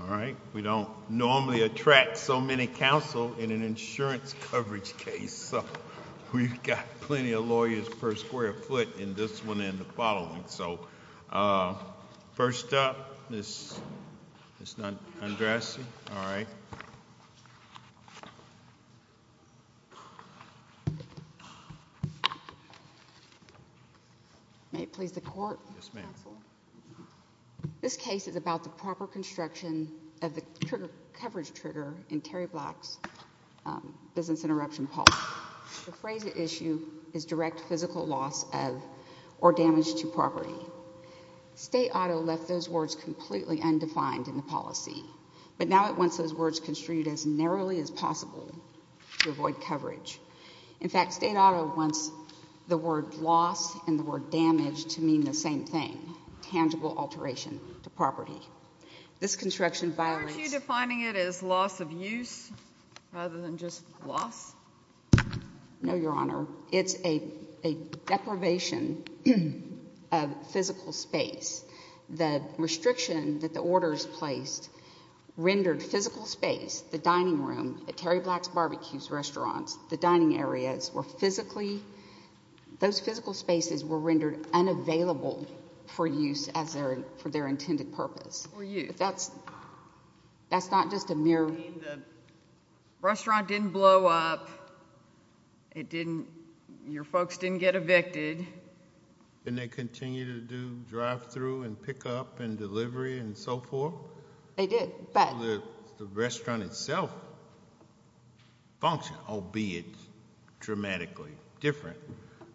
All right, we don't normally attract so many counsel in an insurance coverage case, so we've got plenty of lawyers per square foot in this one and the following. So first up, Ms. Andresi, all right. May it please the Court, Counsel? Yes, ma'am. This case is about the proper construction of the coverage trigger in Terry Black's business interruption policy. The phrase at issue is direct physical loss of or damage to property. State Auto left those words completely undefined in the policy, but now it wants those words construed as narrowly as possible to avoid coverage. In fact, State Auto wants the word loss and the word damage to mean the same thing, tangible alteration to property. This construction violates... Rather than just loss? No, Your Honor. It's a deprivation of physical space. The restriction that the orders placed rendered physical space, the dining room at Terry Black's Barbecue's restaurants, the dining areas were physically, those physical spaces were rendered unavailable for use as their, for their intended purpose. For use. If that's, that's not just a mere... I mean, the restaurant didn't blow up. It didn't, your folks didn't get evicted. And they continue to do drive-through and pick up and delivery and so forth? They did, but... The restaurant itself functioned, albeit dramatically different,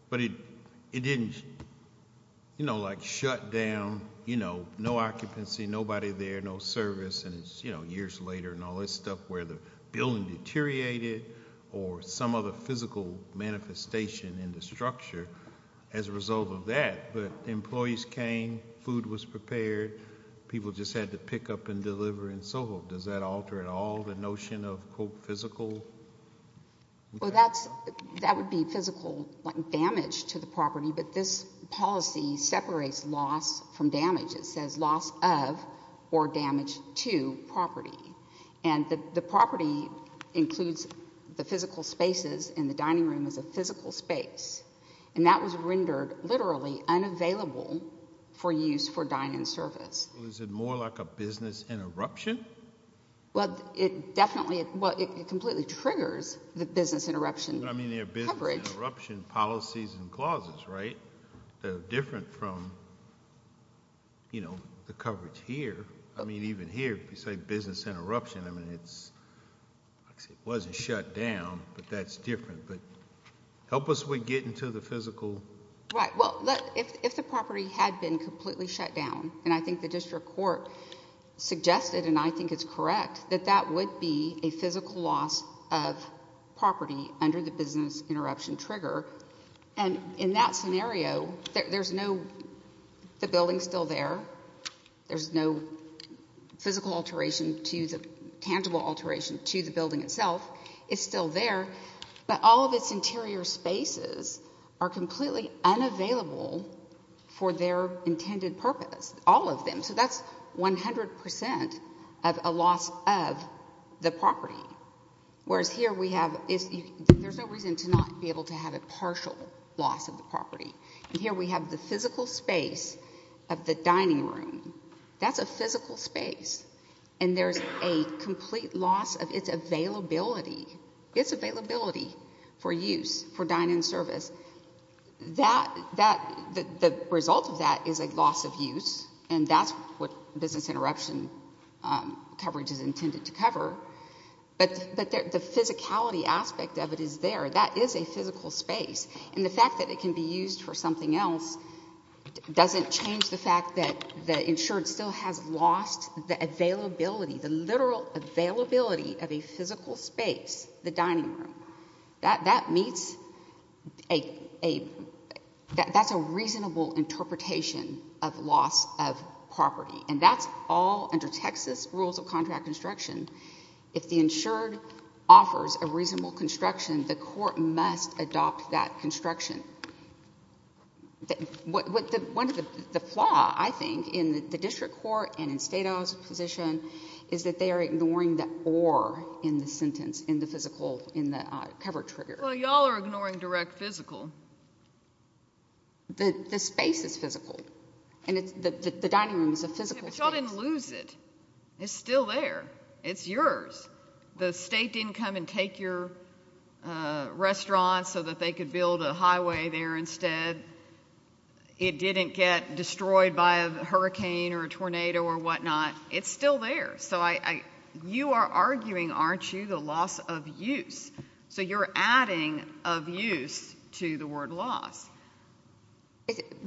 but it, it didn't, you know, like shut down, you know, no occupancy, nobody there, no service, and it's, you know, years later and all this stuff where the building deteriorated or some other physical manifestation in the structure as a result of that, but employees came, food was prepared, people just had to pick up and deliver and so forth. Does that alter at all the notion of quote physical? Well, that's, that would be physical damage to the property, but this policy separates loss from damage. It says loss of or damage to property. And the, the property includes the physical spaces in the dining room as a physical space. And that was rendered literally unavailable for use for dine-in service. Well, is it more like a business interruption? Well, it definitely, well, it completely triggers the business interruption. I mean, they're business interruption policies and clauses, right? They're different from, you know, the coverage here. I mean, even here, if you say business interruption, I mean, it's, it wasn't shut down, but that's different, but help us with getting to the physical. Right. Well, if, if the property had been completely shut down, and I think the district court suggested and I think it's correct that that would be a physical loss of property under the business interruption trigger. And in that scenario, there's no, the building's still there. There's no physical alteration to the tangible alteration to the building itself. It's still there, but all of its interior spaces are completely unavailable for their intended purpose, all of them. So that's 100% of a loss of the property. Whereas here we have, there's no reason to not be able to have a partial loss of the property. And here we have the physical space of the dining room. That's a physical space. And there's a complete loss of its availability, its availability for use, for dine-in service. That, the result of that is a loss of use, and that's what business interruption coverage is intended to cover, but the physicality aspect of it is there. That is a physical space, and the fact that it can be used for something else doesn't change the fact that the insured still has lost the availability, the literal availability of a physical space, the dining room. That meets a, that's a reasonable interpretation of loss of property, and that's all under Texas rules of contract construction. If the insured offers a reasonable construction, the court must adopt that construction. One of the, the flaw, I think, in the district court and in Stato's position is that they are ignoring the or in the sentence, in the physical, in the coverage trigger. Well, y'all are ignoring direct physical. The space is physical, and it's, the dining room is a physical space. Yeah, but y'all didn't lose it. It's still there. It's yours. The state didn't come and take your restaurant so that they could build a highway there instead. It didn't get destroyed by a hurricane or a tornado or whatnot. It's still there. So I, I, you are arguing, aren't you, the loss of use. So you're adding of use to the word loss.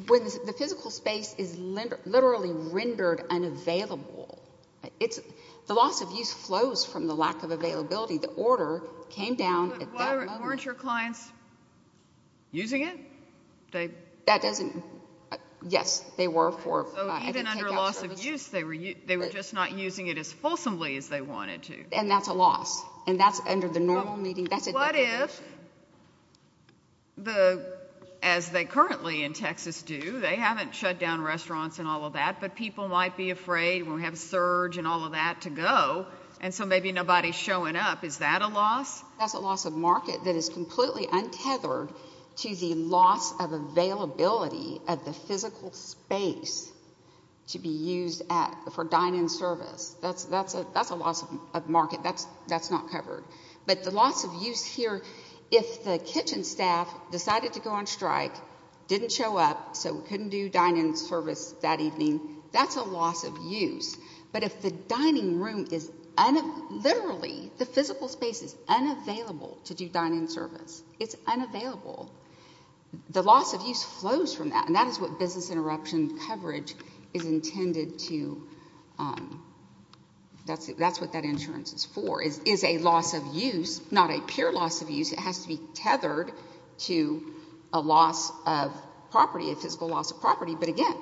When the physical space is literally rendered unavailable, it's, the loss of use flows from the lack of availability. The order came down at that moment. But weren't your clients using it? They. That doesn't, yes, they were for, I didn't take out service. So even under loss of use, they were, they were just not using it as fulsomely as they wanted to. And that's under the normal meeting, that's a. What if the, as they currently in Texas do, they haven't shut down restaurants and all of that, but people might be afraid when we have surge and all of that to go. And so maybe nobody's showing up. Is that a loss? That's a loss of market that is completely untethered to the loss of availability of the physical space to be used at for dine in service. That's that's a, that's a loss of market that's, that's not covered. But the loss of use here, if the kitchen staff decided to go on strike, didn't show up, so we couldn't do dine in service that evening, that's a loss of use. But if the dining room is literally, the physical space is unavailable to do dine in service, it's unavailable. The loss of use flows from that. And that is what business interruption coverage is intended to, that's, that's what that insurance is for, is, is a loss of use, not a pure loss of use, it has to be tethered to a loss of property, a physical loss of property, but again,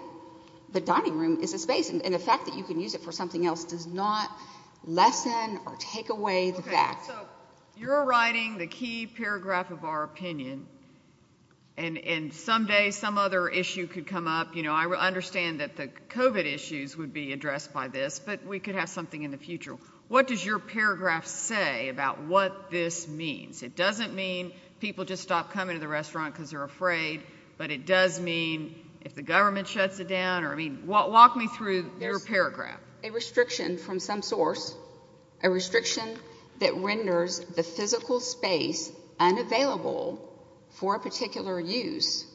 the dining room is a space and the fact that you can use it for something else does not lessen or take away that. So, you're writing the key paragraph of our opinion, and someday some other issue could come up, you know, I understand that the COVID issues would be addressed by this, but we could have something in the future. What does your paragraph say about what this means? It doesn't mean people just stop coming to the restaurant because they're afraid, but it does mean if the government shuts it down, or I mean, walk me through your paragraph. A restriction from some source, a restriction that renders the physical space unavailable for a particular use,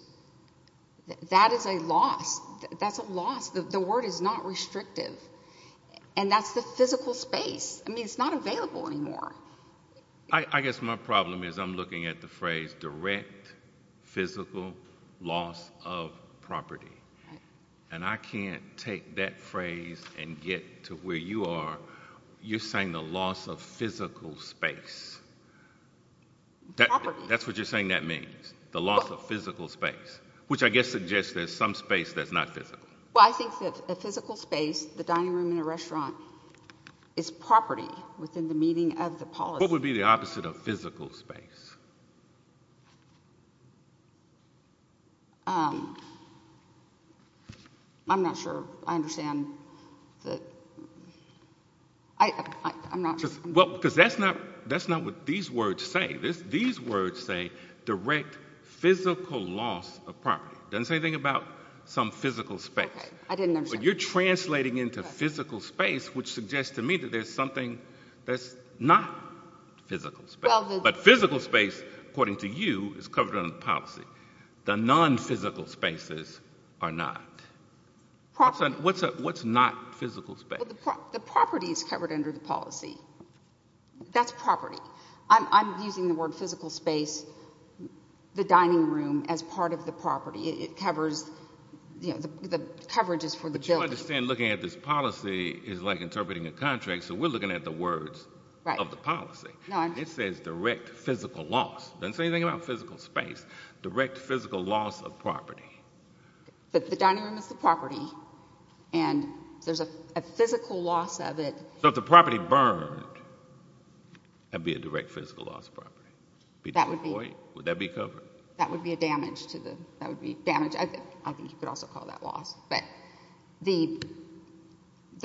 that is a loss, that's a loss, the word is not restrictive, and that's a physical space. I mean, it's not available anymore. I guess my problem is I'm looking at the phrase direct physical loss of property, and I can't take that phrase and get to where you are, you're saying the loss of physical space. Property. That's what you're saying that means, the loss of physical space, which I guess suggests there's some space that's not physical. Well, I think that a physical space, the dining room in a restaurant, is property within the meaning of the policy. What would be the opposite of physical space? I'm not sure I understand that, I'm not sure. Well, because that's not, that's not what these words say. These words say direct physical loss of property, it doesn't say anything about some physical space. Okay, I didn't understand. But you're translating into physical space, which suggests to me that there's something that's not physical space. But physical space, according to you, is covered under the policy. The non-physical spaces are not. What's not physical space? The property is covered under the policy. That's property. I'm using the word physical space, the dining room, as part of the property. It covers, you know, the coverage is for the building. But you understand looking at this policy is like interpreting a contract, so we're looking at the words of the policy. It says direct physical loss, it doesn't say anything about physical space. Direct physical loss of property. But the dining room is the property, and there's a physical loss of it. So if the property burned, that'd be a direct physical loss of property. That would be. Would that be covered? That would be a damage to the. That would be damage. I think you could also call that loss. But the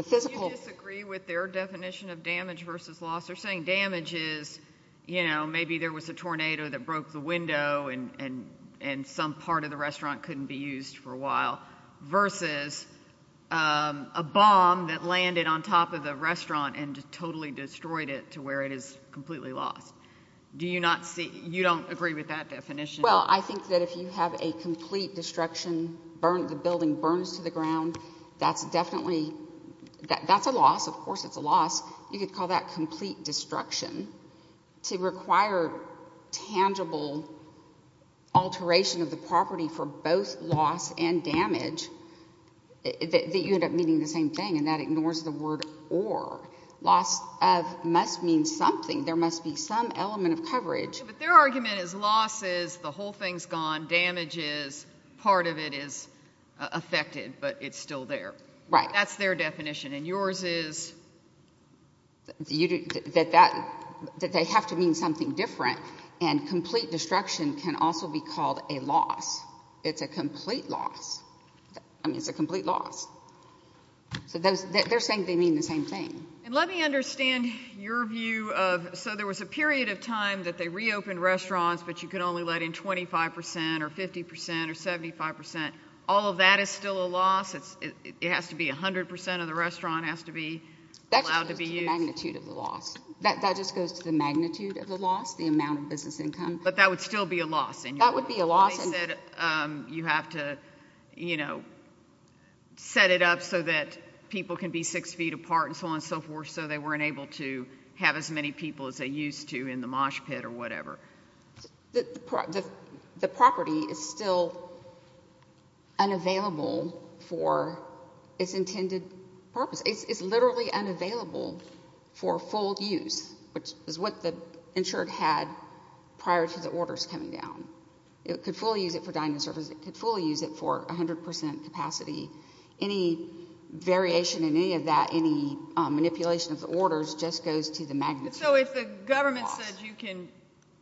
physical. Do you disagree with their definition of damage versus loss? They're saying damage is, you know, maybe there was a tornado that broke the window and some part of the restaurant couldn't be used for a while, versus a bomb that landed on top of the restaurant and totally destroyed it to where it is completely lost. Do you not see, you don't agree with that definition? Well, I think that if you have a complete destruction, the building burns to the ground, that's definitely, that's a loss, of course it's a loss. You could call that complete destruction. To require tangible alteration of the property for both loss and damage, that you end up meaning the same thing, and that ignores the word or. Loss of must mean something. There must be some element of coverage. But their argument is loss is the whole thing's gone, damage is part of it is affected, but it's still there. Right. That's their definition. And yours is. That they have to mean something different. And complete destruction can also be called a loss. It's a complete loss. I mean, it's a complete loss. So they're saying they mean the same thing. And let me understand your view of, so there was a period of time that they reopened restaurants, but you could only let in 25 percent or 50 percent or 75 percent, all of that is still a loss? It has to be 100 percent of the restaurant has to be allowed to be used? That just goes to the magnitude of the loss. That just goes to the magnitude of the loss, the amount of business income. But that would still be a loss? That would be a loss. They said you have to, you know, set it up so that people can be six feet apart and so on and so forth. So they weren't able to have as many people as they used to in the mosh pit or whatever. The property is still unavailable for its intended purpose. It's literally unavailable for full use, which is what the insured had prior to the orders coming down. It could fully use it for dining service, it could fully use it for 100 percent capacity. Any variation in any of that, any manipulation of the orders, just goes to the magnitude of the loss. So if the government said you can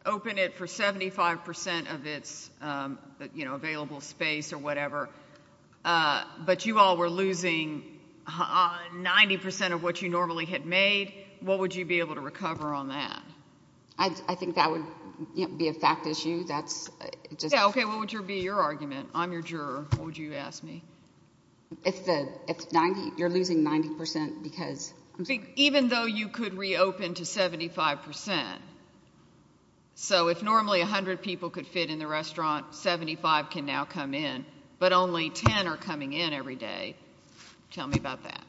open it for 75 percent of its available space or whatever, but you all were losing 90 percent of what you normally had made, what would you be able to recover on that? I think that would be a fact issue. Yeah, okay. What would be your argument? I'm your juror. What would you ask me? If you're losing 90 percent because... Even though you could reopen to 75 percent. So if normally 100 people could fit in the restaurant, 75 can now come in. But only 10 are coming in every day. Tell me about that.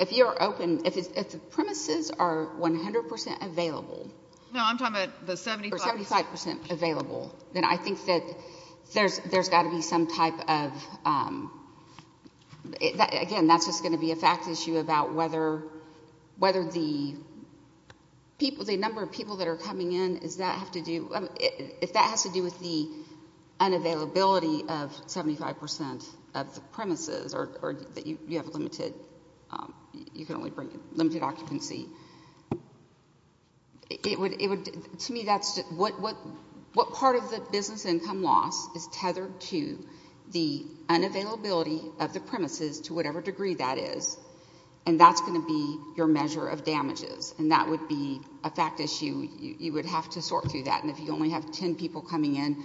If you're open, if the premises are 100 percent available... No, I'm talking about the 75... Or 75 percent available, then I think that there's got to be some type of... Again, that's just going to be a fact issue about whether the number of people that are coming in, if that has to do with the unavailability of 75 percent of the premises, or that you To me, that's just... What part of the business income loss is tethered to the unavailability of the premises to whatever degree that is? And that's going to be your measure of damages, and that would be a fact issue. You would have to sort through that, and if you only have 10 people coming in,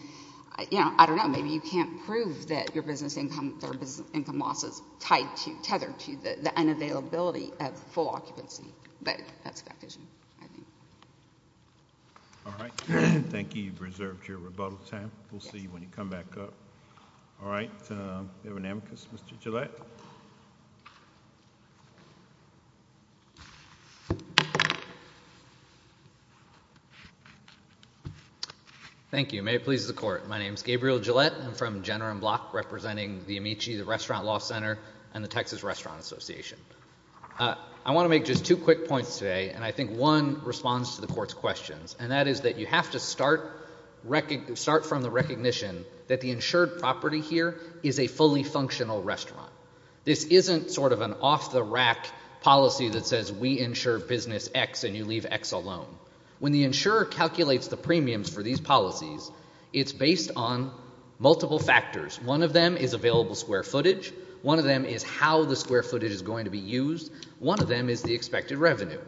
I don't know, maybe you can't prove that your business income loss is tethered to the unavailability of full occupancy. But that's a fact issue, I think. All right. Thank you. You've reserved your rebuttal time. We'll see you when you come back up. All right. We have an amicus. Mr. Gillette. Thank you. May it please the Court. My name is Gabriel Gillette. I'm from Jenner & Block, representing the Amici, the Restaurant Law Center, and the Texas Restaurant Association. I want to make just two quick points today, and I think one responds to the Court's questions, and that is that you have to start from the recognition that the insured property here is a fully functional restaurant. This isn't sort of an off-the-rack policy that says we insure business X and you leave X alone. When the insurer calculates the premiums for these policies, it's based on multiple factors. One of them is available square footage. One of them is how the square footage is going to be used. One of them is the expected revenue.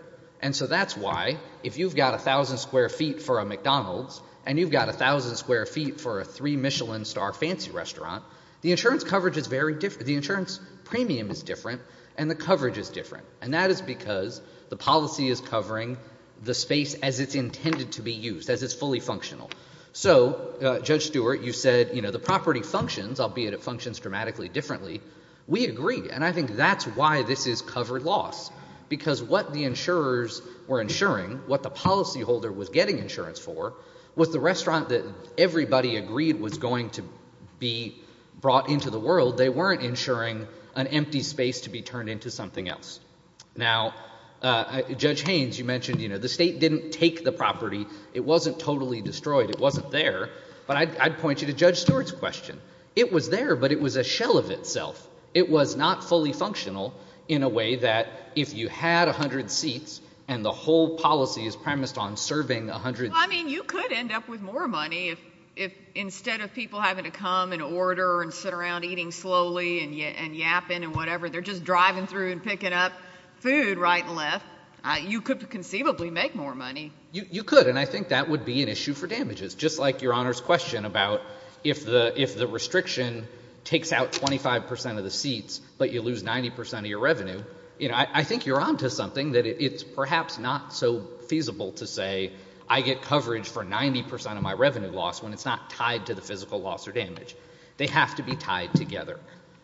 And so that's why, if you've got 1,000 square feet for a McDonald's and you've got 1,000 square feet for a three-Michelin-star fancy restaurant, the insurance premium is different and the coverage is different, and that is because the policy is covering the space as it's intended to be used, as it's fully functional. So, Judge Stewart, you said the property functions, albeit it functions dramatically differently. We agree, and I think that's why this is covered loss, because what the insurers were insuring, what the policyholder was getting insurance for, was the restaurant that everybody agreed was going to be brought into the world. They weren't insuring an empty space to be turned into something else. Now, Judge Haynes, you mentioned the state didn't take the property. It wasn't totally destroyed. It wasn't there. But I'd point you to Judge Stewart's question. It was there, but it was a shell of itself. It was not fully functional in a way that if you had 100 seats and the whole policy is premised on serving 100 seats. I mean, you could end up with more money if instead of people having to come and order and sit around eating slowly and yapping and whatever, they're just driving through and picking up food right and left. You could conceivably make more money. You could, and I think that would be an issue for damages, just like Your Honor's question about if the restriction takes out 25% of the seats, but you lose 90% of your revenue. I think you're on to something that it's perhaps not so feasible to say I get coverage for 90% of my revenue loss when it's not tied to the physical loss or damage. They have to be tied together.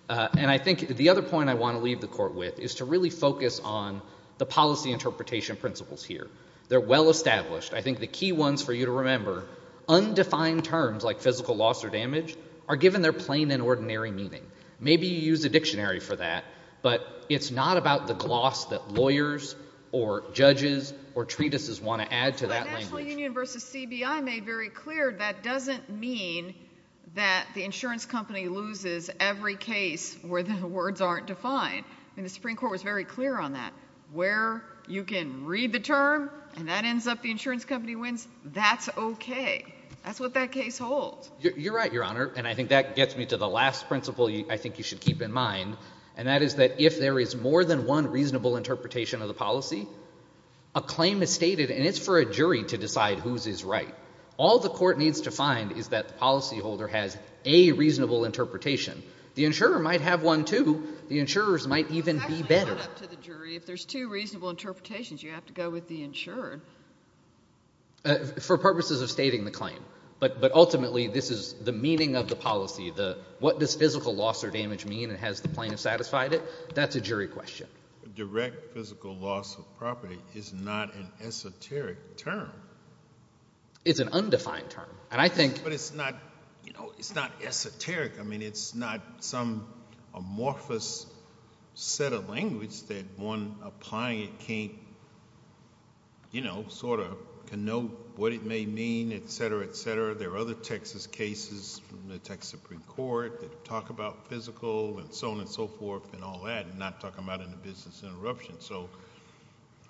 And I think the other point I want to leave the Court with is to really focus on the policy interpretation principles here. They're well established. I think the key ones for you to remember, undefined terms like physical loss or damage are given their plain and ordinary meaning. Maybe you use a dictionary for that, but it's not about the gloss that lawyers or judges or treatises want to add to that language. But the National Union versus CBI made very clear that doesn't mean that the insurance company loses every case where the words aren't defined. The Supreme Court was very clear on that. Where you can read the term and that ends up the insurance company wins, that's okay. That's what that case holds. You're right, Your Honor, and I think that gets me to the last principle I think you should keep in mind, and that is that if there is more than one reasonable interpretation of the policy, a claim is stated and it's for a jury to decide whose is right. All the Court needs to find is that the policyholder has a reasonable interpretation. The insurer might have one, too. The insurers might even be better. It's actually not up to the jury. If there's two reasonable interpretations, you have to go with the insurer. For purposes of stating the claim, but ultimately, this is the meaning of the policy. What does physical loss or damage mean and has the plaintiff satisfied it? That's a jury question. Direct physical loss of property is not an esoteric term. It's an undefined term, and I think- But it's not, you know, it's not esoteric. I mean, it's not some amorphous set of language that one applying it can't, you know, sort of connote what it may mean, et cetera, et cetera. There are other Texas cases from the Texas Supreme Court that talk about physical and so on and so forth and all that, and not talk about it in a business interruption. So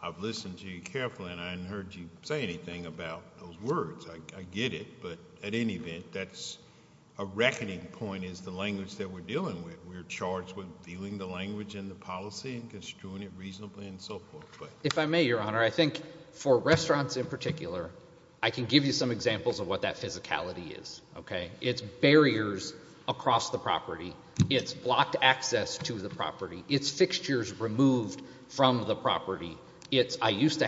I've listened to you carefully, and I haven't heard you say anything about those words. I get it, but at any event, that's a reckoning point is the language that we're dealing with. We're charged with viewing the language in the policy and construing it reasonably and so forth. If I may, Your Honor, I think for restaurants in particular, I can give you some examples of what that physicality is, okay? It's barriers across the property. It's blocked access to the property. It's fixtures removed from the property. I had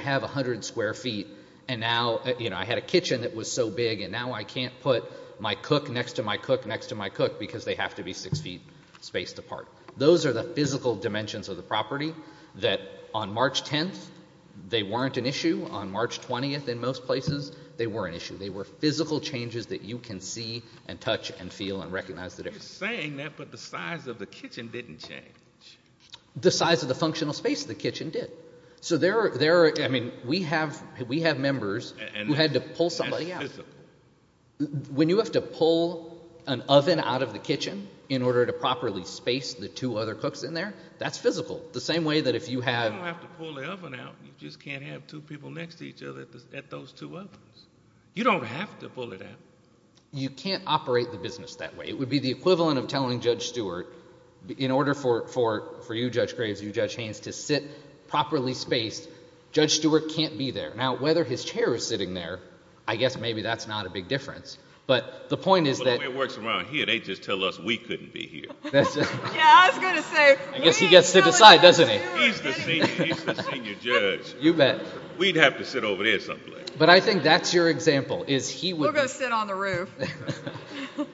a kitchen that was so big, and now I can't put my cook next to my cook next to my cook because they have to be six feet spaced apart. Those are the physical dimensions of the property that on March 10th, they weren't an issue. On March 20th in most places, they were an issue. They were physical changes that you can see and touch and feel and recognize the difference. You're saying that, but the size of the kitchen didn't change. The size of the functional space of the kitchen did. So there are, I mean, we have members who had to pull somebody out. When you have to pull an oven out of the kitchen in order to properly space the two other cooks in there, that's physical. The same way that if you have. You don't have to pull the oven out. You just can't have two people next to each other at those two ovens. You don't have to pull it out. You can't operate the business that way. It would be the equivalent of telling Judge Stewart, in order for you, Judge Graves, you, Judge Haynes, to sit properly spaced. Judge Stewart can't be there. Now, whether his chair is sitting there, I guess maybe that's not a big difference. But the point is that. Well, the way it works around here, they just tell us we couldn't be here. Yeah, I was going to say. I guess he gets to decide, doesn't he? He's the senior judge. You bet. We'd have to sit over there someplace. But I think that's your example, is he would. We'll go sit on the roof.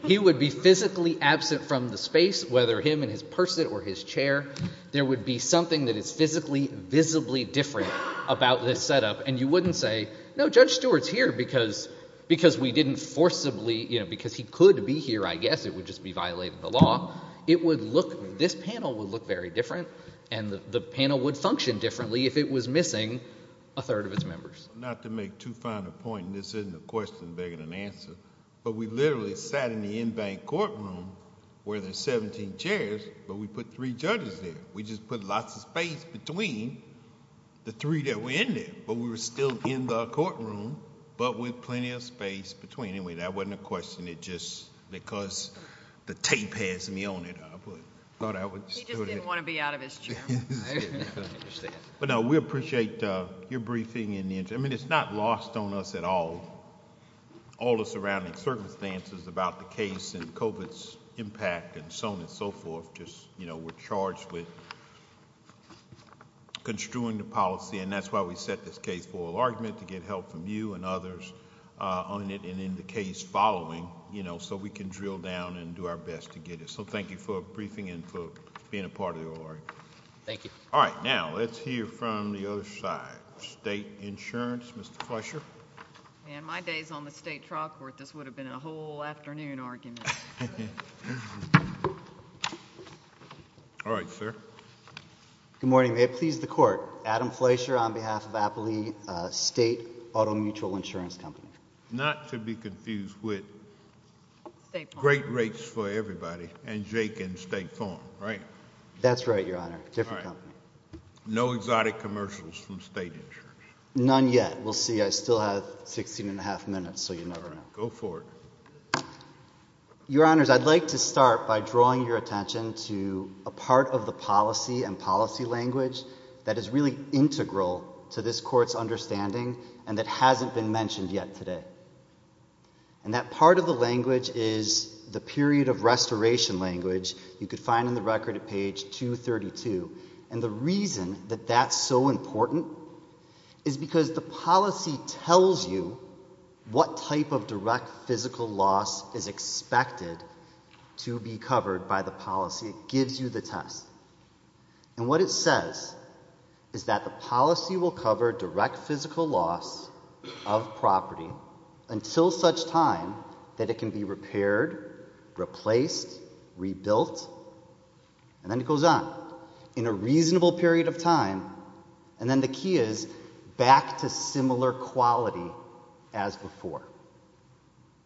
He would be physically absent from the space, whether him in his person or his chair. There would be something that is physically, visibly different about this setup. And you wouldn't say, no, Judge Stewart's here because we didn't forcibly, you know, because he could be here, I guess. It would just be violating the law. It would look, this panel would look very different. And the panel would function differently if it was missing a third of its members. Not to make too fine a point, and this isn't a question begging an answer, but we literally sat in the in-bank courtroom where there's 17 chairs, but we put three judges there. We just put lots of space between the three that were in there. But we were still in the courtroom, but with plenty of space between. Anyway, that wasn't a question. It just, because the tape has me on it, I thought I would... He just didn't want to be out of his chair. But no, we appreciate your briefing and the... I mean, it's not lost on us at all, all the surrounding circumstances about the case and COVID's impact and so on and so forth. Just, you know, we're charged with construing the policy, and that's why we set this case for a large minute to get help from you and others on it and in the case following, you know, so we can drill down and do our best to get it. So, thank you for briefing and for being a part of the oral argument. Thank you. All right. State insurance, Mr. Fletcher. And my days on the state trial court, this would have been a whole afternoon argument. All right, sir. Good morning. May it please the court. Adam Fletcher on behalf of Appley State Auto Mutual Insurance Company. Not to be confused with Great Rates for Everybody and Jake and State Farm, right? That's right, Your Honor. Different company. No exotic commercials from state insurance. None yet. We'll see. I still have 16 and a half minutes, so you never know. Go for it. Your Honors, I'd like to start by drawing your attention to a part of the policy and policy language that is really integral to this court's understanding and that hasn't been mentioned yet today. And that part of the language is the period of restoration language you could find in the record at page 232. And the reason that that's so important is because the policy tells you what type of direct physical loss is expected to be covered by the policy. It gives you the test. And what it says is that the policy will cover direct physical loss of property until such time that it can be repaired, replaced, rebuilt, and then it goes on. In a reasonable period of time. And then the key is back to similar quality as before.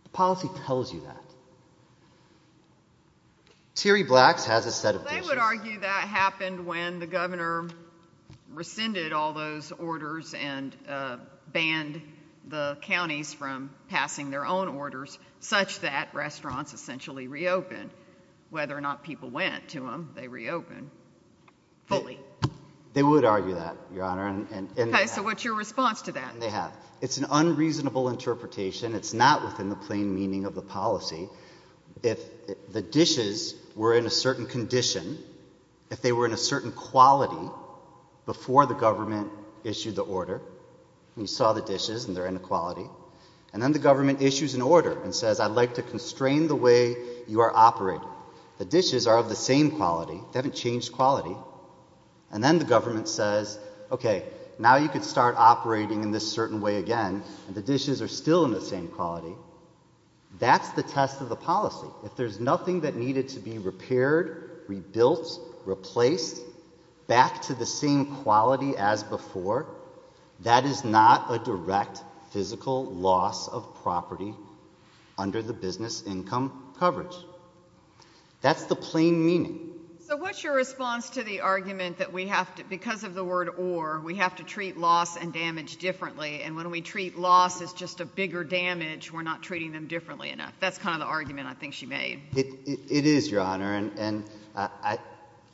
The policy tells you that. Thierry Blacks has a set of issues. They would argue that happened when the governor rescinded all those orders and banned the counties from passing their own orders such that restaurants essentially reopened. Whether or not people went to them, they reopened. Fully. They would argue that, Your Honor. Okay, so what's your response to that? They have. It's an unreasonable interpretation. It's not within the plain meaning of the policy. If the dishes were in a certain condition, if they were in a certain quality before the government issued the order, you saw the dishes and their inequality, and then the government issues an order and says, I'd like to constrain the way you are operating. The dishes are of the same quality. They haven't changed quality. And then the government says, okay, now you can start operating in this certain way again. And the dishes are still in the same quality. That's the test of the policy. If there's nothing that needed to be repaired, rebuilt, replaced, back to the same quality as before, that is not a direct physical loss of property under the business income coverage. That's the plain meaning. So what's your response to the argument that we have to, because of the word or, we have to treat loss and damage differently. And when we treat loss as just a bigger damage, we're not treating them differently enough. That's kind of the argument I think she made. It is, Your Honor. And I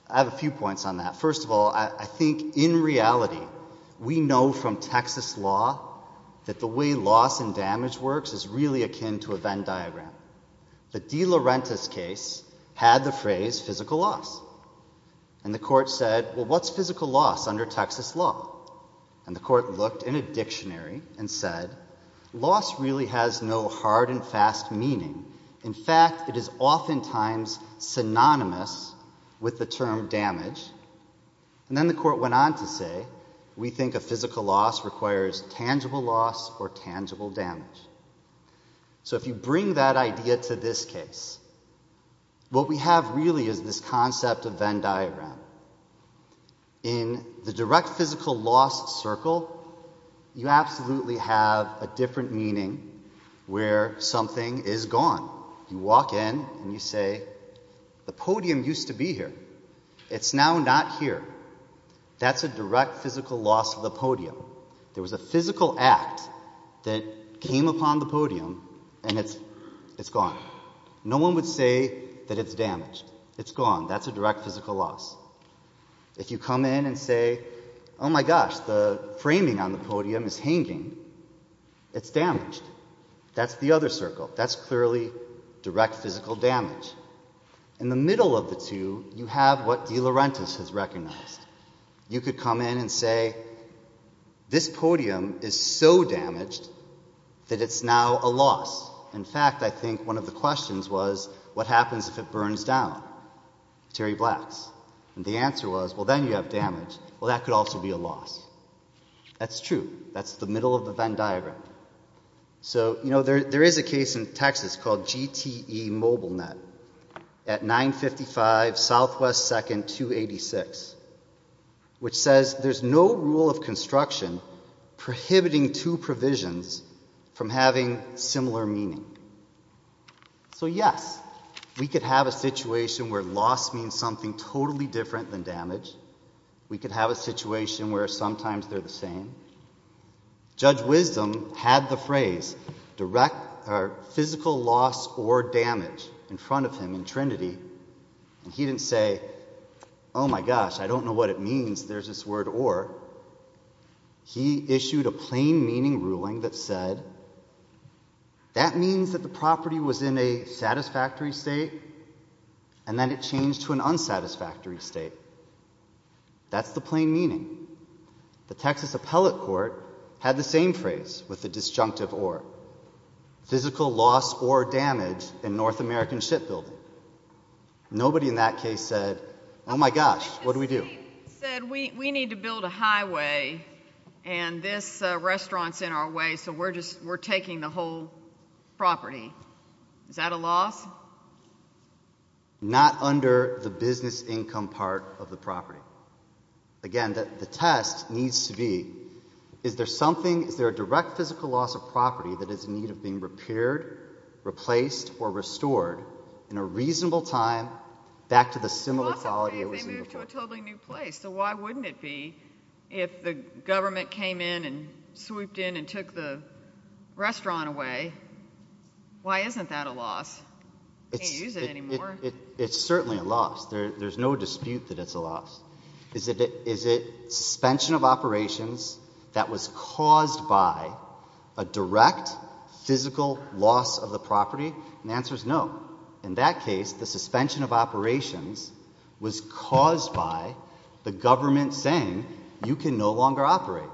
have a few points on that. First of all, I think in reality, we know from Texas law, that the way loss and damage works is really akin to a Venn diagram. The De Laurentiis case had the phrase physical loss. And the court said, well, what's physical loss under Texas law? And the court looked in a dictionary and said, loss really has no hard and fast meaning. In fact, it is oftentimes synonymous with the term damage. And then the court went on to say, we think a physical loss requires tangible loss or tangible damage. So if you bring that idea to this case, what we have really is this concept of Venn diagram. In the direct physical loss circle, you absolutely have a different meaning where something is gone. You walk in and you say, the podium used to be here. It's now not here. That's a direct physical loss of the podium. There was a physical act that came upon the podium, and it's gone. No one would say that it's damaged. It's gone. That's a direct physical loss. If you come in and say, oh my gosh, the framing on the podium is hanging, it's damaged. That's the other circle. That's clearly direct physical damage. In the middle of the two, you have what De Laurentiis has recognized. You could come in and say, this podium is so damaged that it's now a loss. In fact, I think one of the questions was, what happens if it burns down? Terry Black's. And the answer was, well, then you have damage. Well, that could also be a loss. That's true. That's the middle of the Venn diagram. So, you know, there is a case in Texas called GTE MobileNet at 955 Southwest 2nd, 286, which says there's no rule of construction prohibiting two provisions from having similar meaning. So, yes, we could have a situation where loss means something totally different than damage. We could have a situation where sometimes they're the same. Judge Wisdom had the phrase direct physical loss or damage in front of him in Trinity. And he didn't say, oh my gosh, I don't know what it means there's this word or. He issued a plain meaning ruling that said, that means that the property was in a satisfactory state and then it changed to an unsatisfactory state. That's the plain meaning. The Texas Appellate Court had the same phrase with the disjunctive or. Physical loss or damage in North American Shipbuilding. Nobody in that case said, oh my gosh, what do we do? He said, we need to build a highway and this restaurant's in our way, so we're just, we're taking the whole property. Is that a loss? Not under the business income part of the property. Again, the test needs to be, is there something, is there a direct physical loss of property that is in need of being repaired, replaced, or restored in a reasonable time back to the similar quality it was in before? It's a loss if they move to a totally new place. So why wouldn't it be if the government came in and swooped in and took the restaurant away? Why isn't that a loss? Can't use it anymore. It's certainly a loss. There's no dispute that it's a loss. Is it suspension of operations that was caused by a direct physical loss of the property? The answer is no. In that case, the suspension of operations was caused by the government saying you can no longer operate.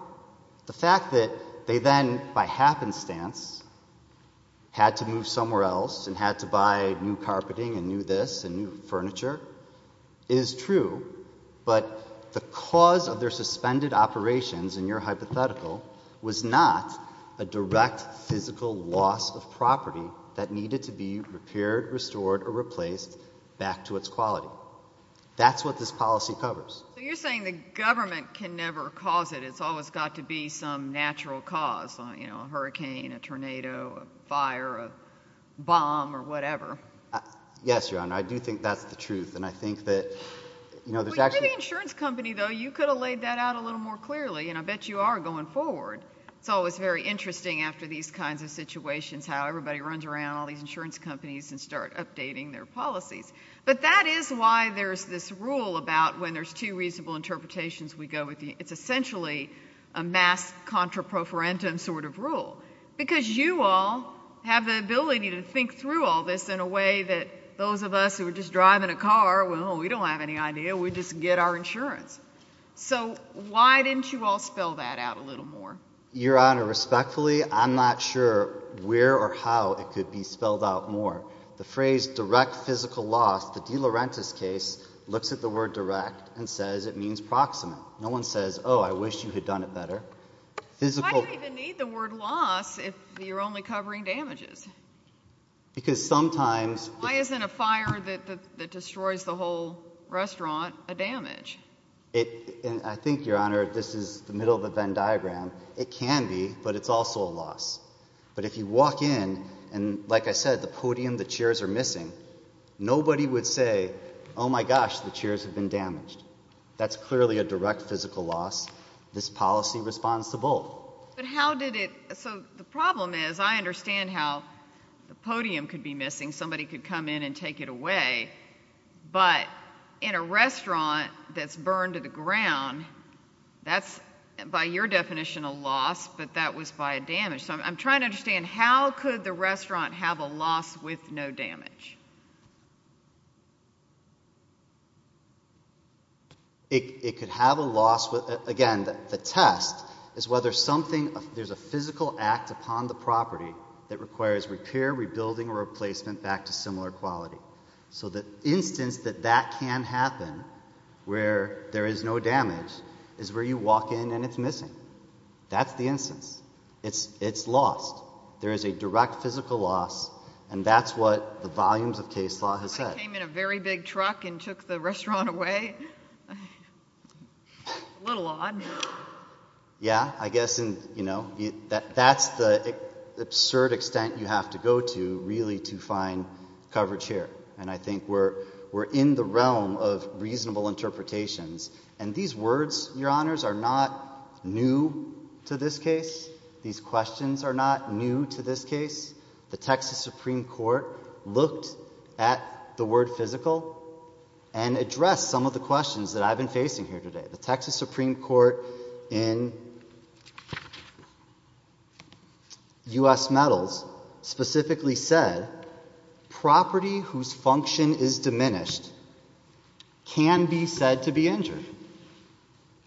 The fact that they then, by happenstance, had to move somewhere else and had to buy new carpeting and new this and new furniture is true, but the cause of their suspended operations in your hypothetical was not a direct physical loss of property that needed to be repaired, restored, or replaced back to its quality. That's what this policy covers. So you're saying the government can never cause it. It's always got to be some natural cause, you know, a hurricane, a tornado, a fire, a bomb, or whatever. Yes, Your Honor, I do think that's the truth. And I think that, you know, there's actually. Well, you're the insurance company, though. You could have laid that out a little more clearly. And I bet you are going forward. It's always very interesting after these kinds of situations how everybody runs around all these insurance companies and start updating their policies. But that is why there's this rule about when there's two reasonable interpretations we go with. It's essentially a mass contraprofarentum sort of rule. Because you all have the ability to think through all this in a way that those of us who are just driving a car, well, we don't have any idea. We just get our insurance. So why didn't you all spell that out a little more? Your Honor, respectfully, I'm not sure where or how it could be spelled out more. The phrase direct physical loss, the De Laurentiis case, looks at the word direct and says it means proximate. No one says, oh, I wish you had done it better. Why do you even need the word loss if you're only covering damages? Because sometimes. Why isn't a fire that destroys the whole restaurant a damage? I think, Your Honor, this is the middle of the Venn diagram. It can be, but it's also a loss. But if you walk in, and like I said, the podium, the chairs are missing. Nobody would say, oh my gosh, the chairs have been damaged. That's clearly a direct physical loss. This policy responds to both. But how did it, so the problem is I understand how the podium could be missing. Somebody could come in and take it away. But in a restaurant that's burned to the ground, that's, by your definition, a loss, but that was by a damage. So I'm trying to understand how could the restaurant have a loss with no damage? It could have a loss with, again, the test is whether something, there's a physical act upon the property that requires repair, rebuilding, or replacement back to similar quality. So the instance that that can happen, where there is no damage, is where you walk in and it's missing. That's the instance. It's lost. There is a direct physical loss. And that's what the volumes of case law has said. I came in a very big truck and took the restaurant away. A little odd. Yeah. I guess that's the absurd extent you have to go to really to find coverage here. And I think we're in the realm of reasonable interpretations. And these words, your honors, are not new to this case. These questions are not new to this case. The Texas Supreme Court looked at the word physical and addressed some of the questions that I've been facing here today. The Texas Supreme Court in US Metals specifically said property whose function is diminished can be said to be injured.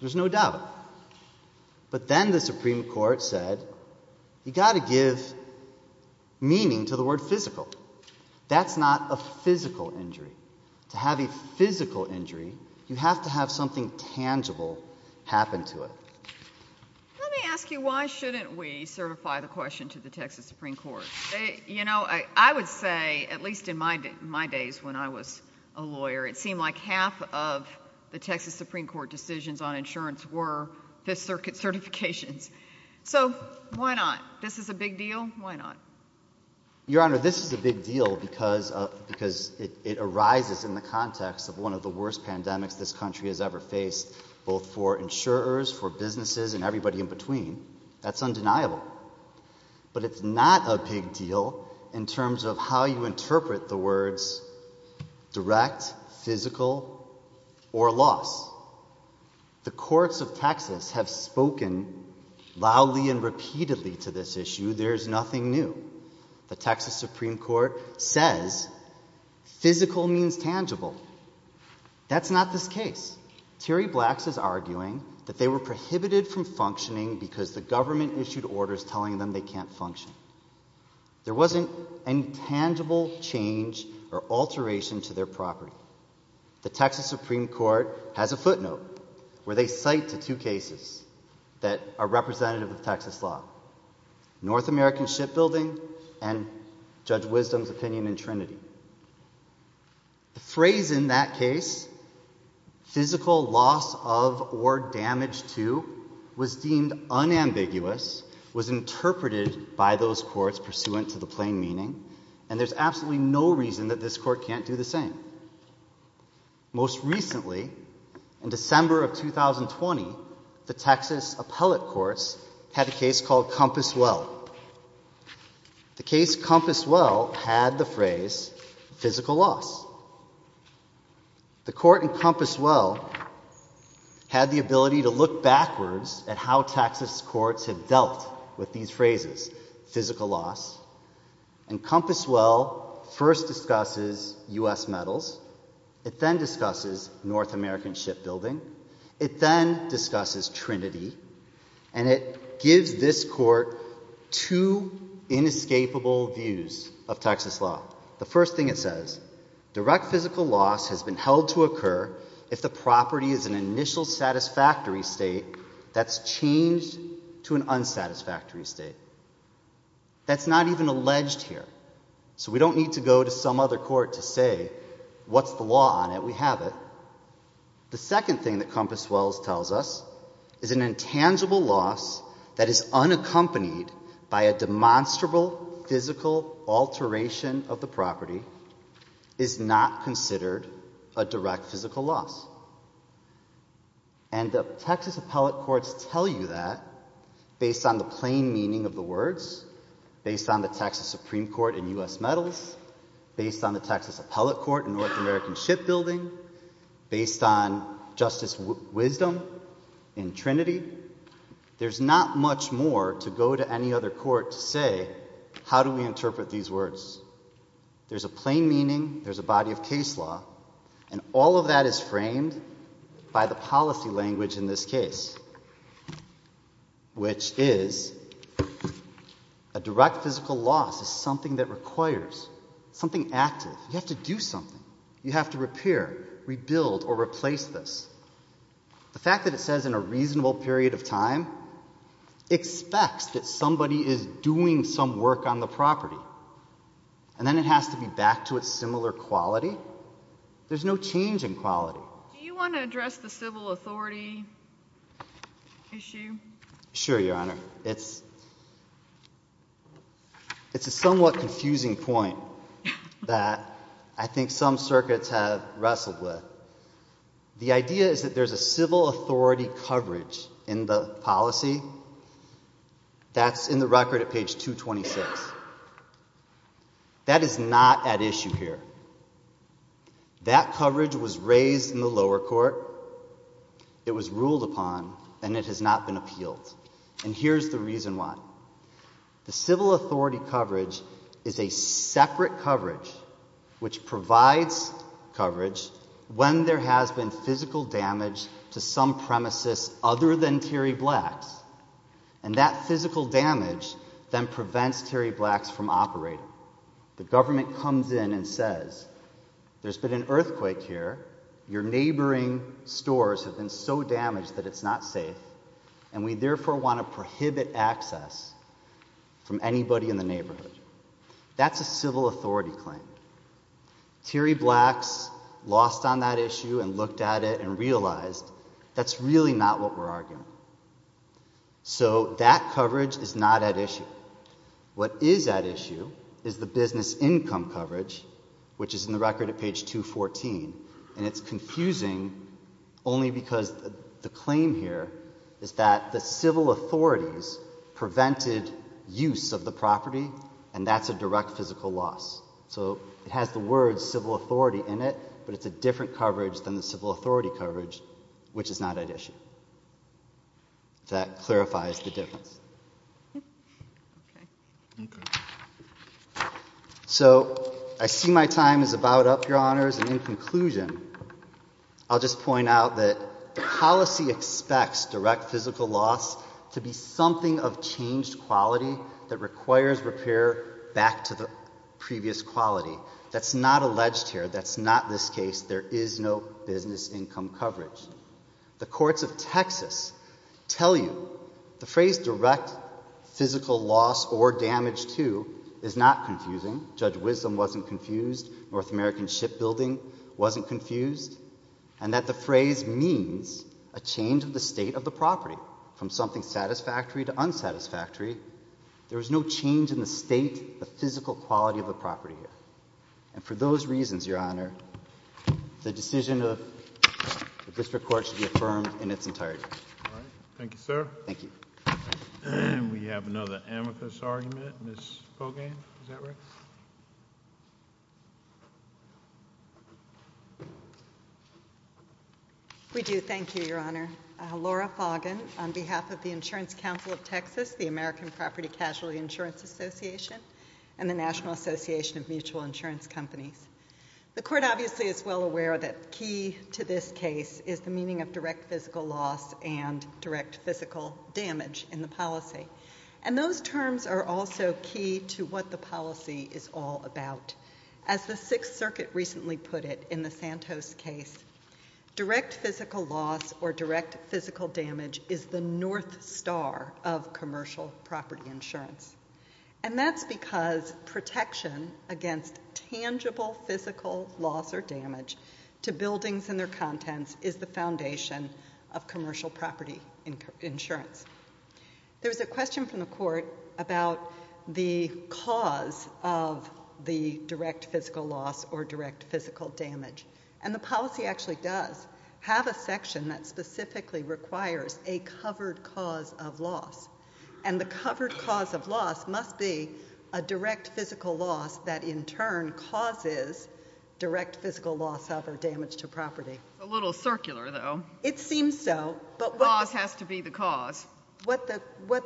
There's no doubt. But then the Supreme Court said, you've got to give meaning to the word physical. That's not a physical injury. To have a physical injury, you have to have something tangible happen to it. Let me ask you, why shouldn't we certify the question to the Texas Supreme Court? You know, I would say, at least in my days when I was a lawyer, it seemed like half of the Texas Supreme Court decisions on insurance were Fifth Circuit certifications. So why not? This is a big deal. Why not? Your honor, this is a big deal because it arises in the context of one of the worst pandemics this country has ever faced, both for insurers, for businesses, and everybody in between. That's undeniable. But it's not a big deal in terms of how you interpret the words direct, physical, or loss. The courts of Texas have spoken loudly and repeatedly to this issue. There's nothing new. The Texas Supreme Court says physical means tangible. That's not this case. Terry Blacks is arguing that they were prohibited from functioning because the government issued orders telling them they can't function. There wasn't any tangible change or alteration to their property. The Texas Supreme Court has a footnote where they cite to two cases that are representative of Texas law. North American shipbuilding and Judge Wisdom's opinion in Trinity. The phrase in that case, physical loss of or damage to, was deemed unambiguous, was interpreted by those courts pursuant to the plain meaning. And there's absolutely no reason that this court can't do the same. Most recently, in December of 2020, the Texas appellate courts had a case called Compass Well. The case Compass Well had the phrase physical loss. The court in Compass Well had the ability to look backwards at how Texas courts have dealt with these phrases, physical loss. And Compass Well first discusses US metals. It then discusses North American shipbuilding. It then discusses Trinity. And it gives this court two inescapable views of Texas law. The first thing it says, direct physical loss has been held to occur if the property is an initial satisfactory state that's changed to an unsatisfactory state. That's not even alleged here. So we don't need to go to some other court to say, what's the law on it? We have it. The second thing that Compass Well tells us is an intangible loss that is unaccompanied by a demonstrable physical alteration of the property is not considered a direct physical loss. And the Texas appellate courts tell you that based on the plain meaning of the words, based on the Texas Supreme Court and US metals, based on the Texas appellate court and North American shipbuilding, based on justice wisdom in Trinity, there's not much more to go to any other court to say, how do we interpret these words? There's a plain meaning. There's a body of case law. And all of that is framed by the policy language in this case, which is a direct physical loss is something that requires something active. You have to do something. You have to repair, rebuild, or replace this. The fact that it says in a reasonable period of time expects that somebody is doing some work on the property. And then it has to be back to its similar quality. There's no change in quality. Do you want to address the civil authority issue? Sure, Your Honor. It's a somewhat confusing point that I think some circuits have wrestled with. The idea is that there's a civil authority coverage in the policy that's in the record at page 226. That is not at issue here. That coverage was raised in the lower court. It was ruled upon. And it has not been appealed. And here's the reason why. The civil authority coverage is a separate coverage which provides coverage when there has been physical damage to some premises other than Terry Black's. And that physical damage then prevents Terry Black's from operating. The government comes in and says, there's been an earthquake here. Your neighboring stores have been so damaged that it's not safe. And we therefore want to prohibit access from anybody in the neighborhood. That's a civil authority claim. Terry Black's lost on that issue and looked at it and realized that's really not what we're arguing. So that coverage is not at issue. What is at issue is the business income coverage, which is in the record at page 214. And it's confusing only because the claim here is that the civil authorities prevented use of the property. And that's a direct physical loss. So it has the word civil authority in it. But it's a different coverage than the civil authority coverage, which is not at issue. That clarifies the difference. So I see my time is about up, Your Honors. And in conclusion, I'll just point out that policy expects direct physical loss to be something of changed quality that requires repair back to the previous quality. That's not alleged here. That's not this case. There is no business income coverage. The courts of Texas tell you the phrase direct physical loss or damage to is not confusing. Judge Wisdom wasn't confused. North American Shipbuilding wasn't confused. And that the phrase means a change of the state of the property from something satisfactory to unsatisfactory. There is no change in the state, the physical quality of the property. And for those reasons, Your Honor, the decision of the district court should be affirmed in its entirety. Thank you, sir. Thank you. We have another amicus argument. Ms. Pogain, is that right? We do. Thank you, Your Honor. Laura Pogain, on behalf of the Insurance Council of Texas, the American Property Casualty Insurance Association, and the National Association of Mutual Insurance Companies. The court obviously is well aware that key to this case is the meaning of direct physical loss and direct physical damage in the policy. As the state of Texas, the state of Texas Sixth Circuit recently put it in the Santos case, direct physical loss or direct physical damage is the north star of commercial property insurance. And that's because protection against tangible physical loss or damage to buildings and their contents is the foundation of commercial property insurance. There's a question from the court about the cause of the direct physical loss or direct physical damage. And the policy actually does have a section that specifically requires a covered cause of loss. And the covered cause of loss must be a direct physical loss that in turn causes direct physical loss of or damage to property. A little circular, though. It seems so, but what the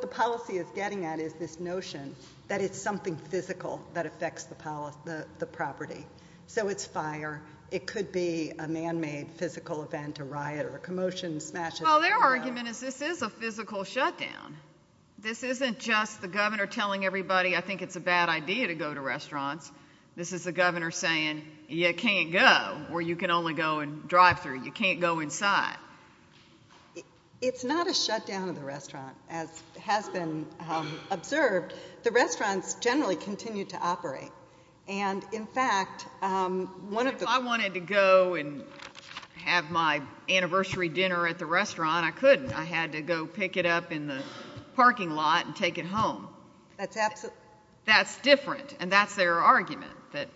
policy is getting at is this notion that it's something physical that affects the property. So it's fire. It could be a man-made physical event, a riot, or a commotion, smashes. Well, their argument is this is a physical shutdown. This isn't just the governor telling everybody I think it's a bad idea to go to restaurants. This is the governor saying, you can't go, or you can only go and drive through. You can't go inside. It's not a shutdown of the restaurant, as has been observed. The restaurants generally continue to operate. And in fact, one of the- If I wanted to go and have my anniversary dinner at the restaurant, I couldn't. I had to go pick it up in the parking lot and take it home. That's absolutely- That's different. And that's their argument, that-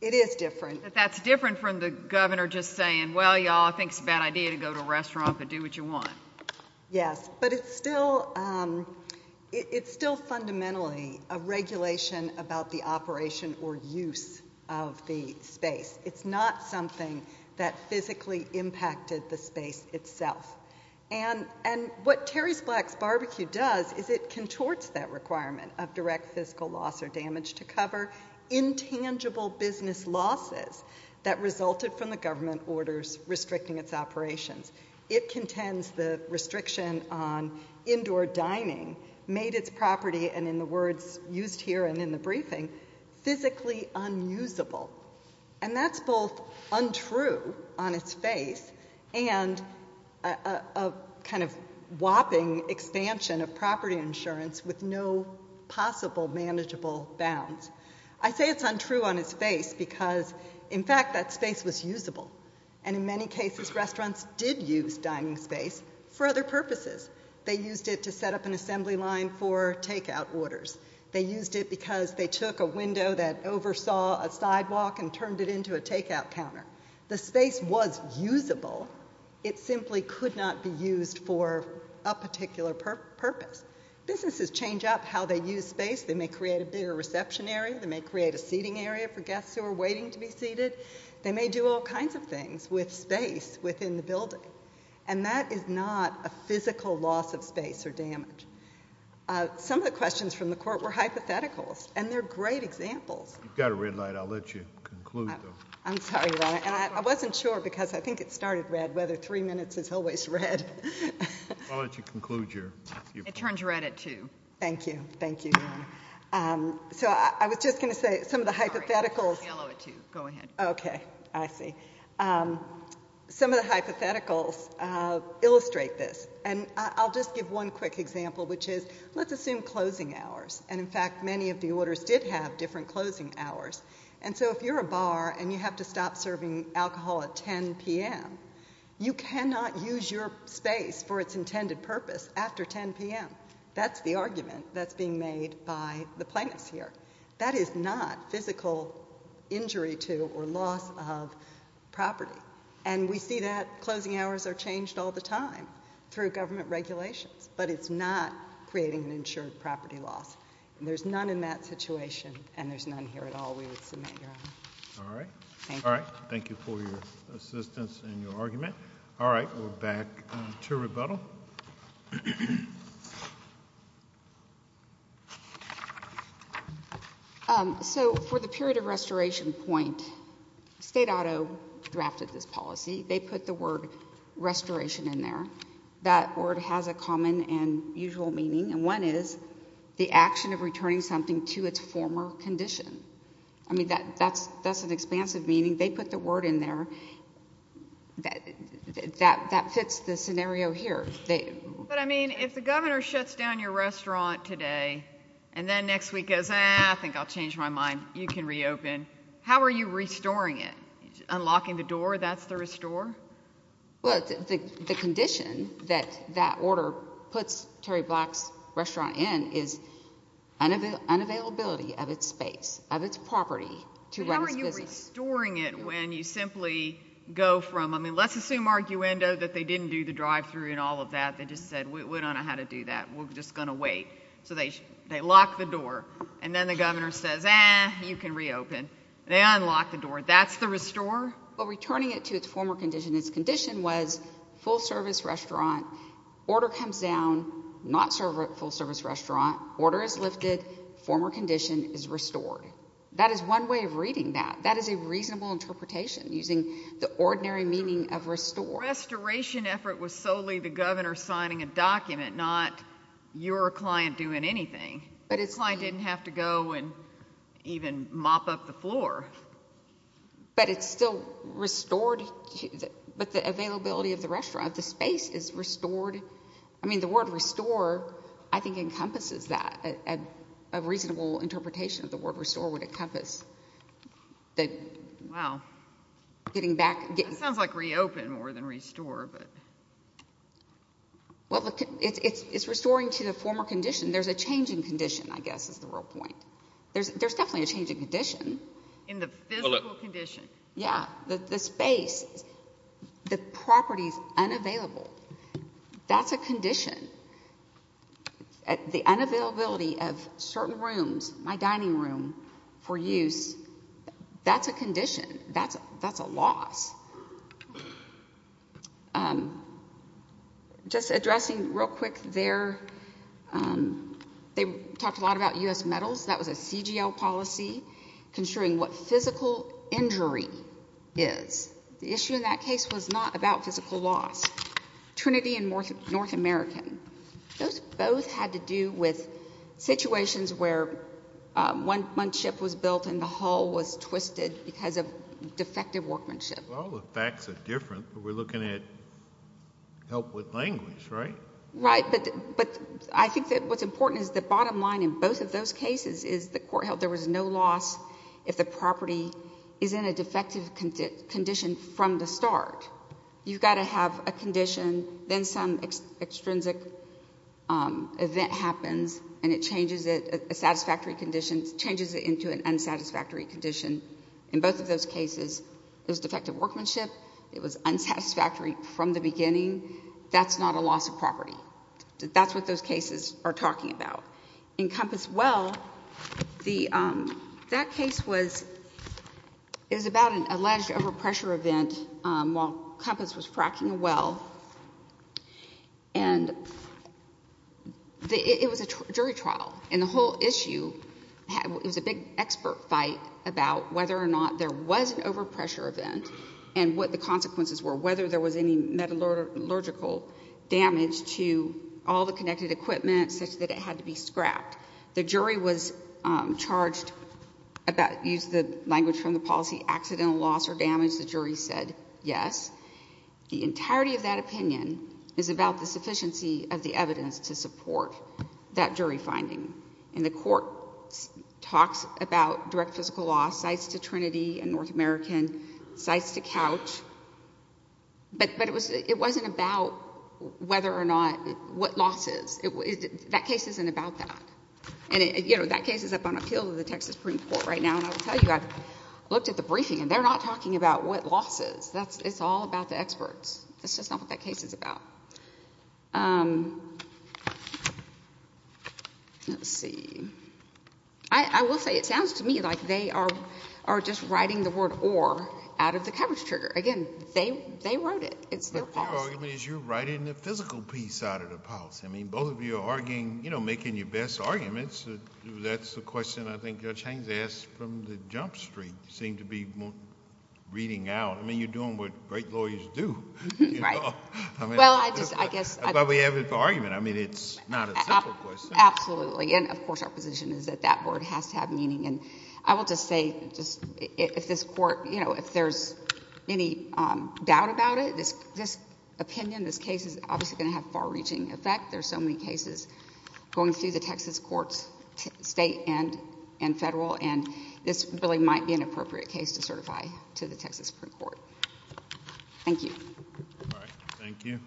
It is different. That that's different from the governor just saying, well, y'all, I think it's a bad idea to go to a restaurant, but do what you want. Yes, but it's still fundamentally a regulation about the operation or use of the space. It's not something that physically impacted the space itself. And what Terry Black's Barbecue does is it contorts that requirement of direct fiscal loss or damage to cover intangible business losses that resulted from the government orders restricting its operations. It contends the restriction on indoor dining made its property, and in the words used here and in the briefing, physically unusable. And that's both untrue on its face and a kind of whopping expansion of property insurance with no possible manageable bounds. I say it's untrue on its face because, in fact, that space was usable. And in many cases, restaurants did use dining space for other purposes. They used it to set up an assembly line for takeout orders. They used it because they took a window that oversaw a sidewalk and turned it into a takeout counter. The space was usable. It simply could not be used for a particular purpose. Businesses change up how they use space. They may create a bigger reception area. They may create a seating area for guests who are waiting to be seated. They may do all kinds of things with space within the building. And that is not a physical loss of space or damage. Some of the questions from the court were hypotheticals, and they're great examples. You've got a red light. I'll let you conclude, though. I'm sorry, Your Honor. And I wasn't sure because I think it started red, whether three minutes is always red. I'll let you conclude, Your Honor. It turns red at two. Thank you, thank you, Your Honor. So I was just gonna say some of the hypotheticals. Yellow at two, go ahead. Okay, I see. Some of the hypotheticals illustrate this. And I'll just give one quick example, which is let's assume closing hours. And in fact, many of the orders did have different closing hours. And so if you're a bar and you have to stop serving alcohol at 10 p.m., you cannot use your space for its intended purpose after 10 p.m. That's the argument that's being made by the plaintiffs here. That is not physical injury to or loss of property. And we see that closing hours are changed all the time through government regulations, but it's not creating an insured property loss. There's none in that situation, and there's none here at all. We would submit, Your Honor. All right. Thank you. All right, thank you for your assistance and your argument. All right, we're back to rebuttal. So for the period of restoration point, state auto drafted this policy. They put the word restoration in there. That word has a common and usual meaning, and one is the action of returning something to its former condition. I mean, that's an expansive meaning. They put the word in there. That fits the scenario here. But I mean, if the governor shuts down your restaurant today and then next week goes, ah, I think I'll change my mind. You can reopen. How are you restoring it? Unlocking the door, that's the restore? Well, the condition that that order puts Terry Black's restaurant in is unavailability of its space, of its property to run its business. But how are you restoring it when you simply go from, I mean, let's assume arguendo that they didn't do the drive-through and all of that. They just said, we don't know how to do that. We're just gonna wait. So they lock the door. And then the governor says, ah, you can reopen. They unlock the door. That's the restore? Well, returning it to its former condition. Its condition was full-service restaurant, order comes down, not full-service restaurant, order is lifted, former condition is restored. That is one way of reading that. using the ordinary meaning of restore. Restoration effort was solely the governor signing a document, not your client doing anything. But his client didn't have to go and even mop up the floor. But it's still restored, but the availability of the restaurant, the space is restored. I mean, the word restore, I think, encompasses that. A reasonable interpretation of the word restore would encompass the getting back. That sounds like reopen more than restore. Well, it's restoring to the former condition. There's a change in condition, I guess, is the real point. There's definitely a change in condition. In the physical condition. Yeah, the space, the property's unavailable. That's a condition. The unavailability of certain rooms, my dining room for use, that's a condition. That's a loss. Just addressing real quick there, they talked a lot about U.S. Metals. That was a CGL policy, construing what physical injury is. The issue in that case was not about physical loss. Trinity and North American, those both had to do with situations where one ship was built and the hull was twisted because of defective workmanship. Well, the facts are different, but we're looking at help with language, right? Right, but I think that what's important is the bottom line in both of those cases is the court held there was no loss if the property is in a defective condition from the start. You've gotta have a condition, then some extrinsic event happens and it changes it, a satisfactory condition changes it into an unsatisfactory condition. In both of those cases, it was defective workmanship. It was unsatisfactory from the beginning. That's not a loss of property. That's what those cases are talking about. In Compass Well, that case was, it was about an alleged overpressure event while Compass was fracking a well. And it was a jury trial, and the whole issue, it was a big expert fight about whether or not there was an overpressure event and what the consequences were, whether there was any metallurgical damage to all the connected equipment such that it had to be scrapped. The jury was charged about, used the language from the policy, accidental loss or damage. The jury said yes. The entirety of that opinion is about the sufficiency of the evidence to support that jury finding. And the court talks about direct physical loss, cites to Trinity and North American, cites to Couch. But it wasn't about whether or not, what losses. That case isn't about that. And that case is up on appeal to the Texas Supreme Court right now, and I'll tell you, I've looked at the briefing, and they're not talking about what losses. It's all about the experts. That's just not what that case is about. Let's see. I will say it sounds to me like they are just writing the word or out of the coverage trigger. Again, they wrote it. It's their policy. But their argument is you're writing the physical piece out of the policy. I mean, both of you are arguing, you know, making your best arguments. That's the question I think Judge Haines asked from the Jump Street. You seem to be reading out. I mean, you're doing what great lawyers do. Right. Well, I just, I guess. But we have an argument. I mean, it's not a simple question. Absolutely, and of course our position is that that word has to have meaning. And I will just say, just, if this court, you know, if there's any doubt about it, this opinion, this case is obviously gonna have far-reaching effect. There's so many cases going through the Texas courts, state and federal, and this really might be an appropriate case to certify to the Texas Supreme Court. Thank you. All right, thank you.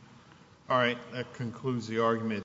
All right, that concludes the argument.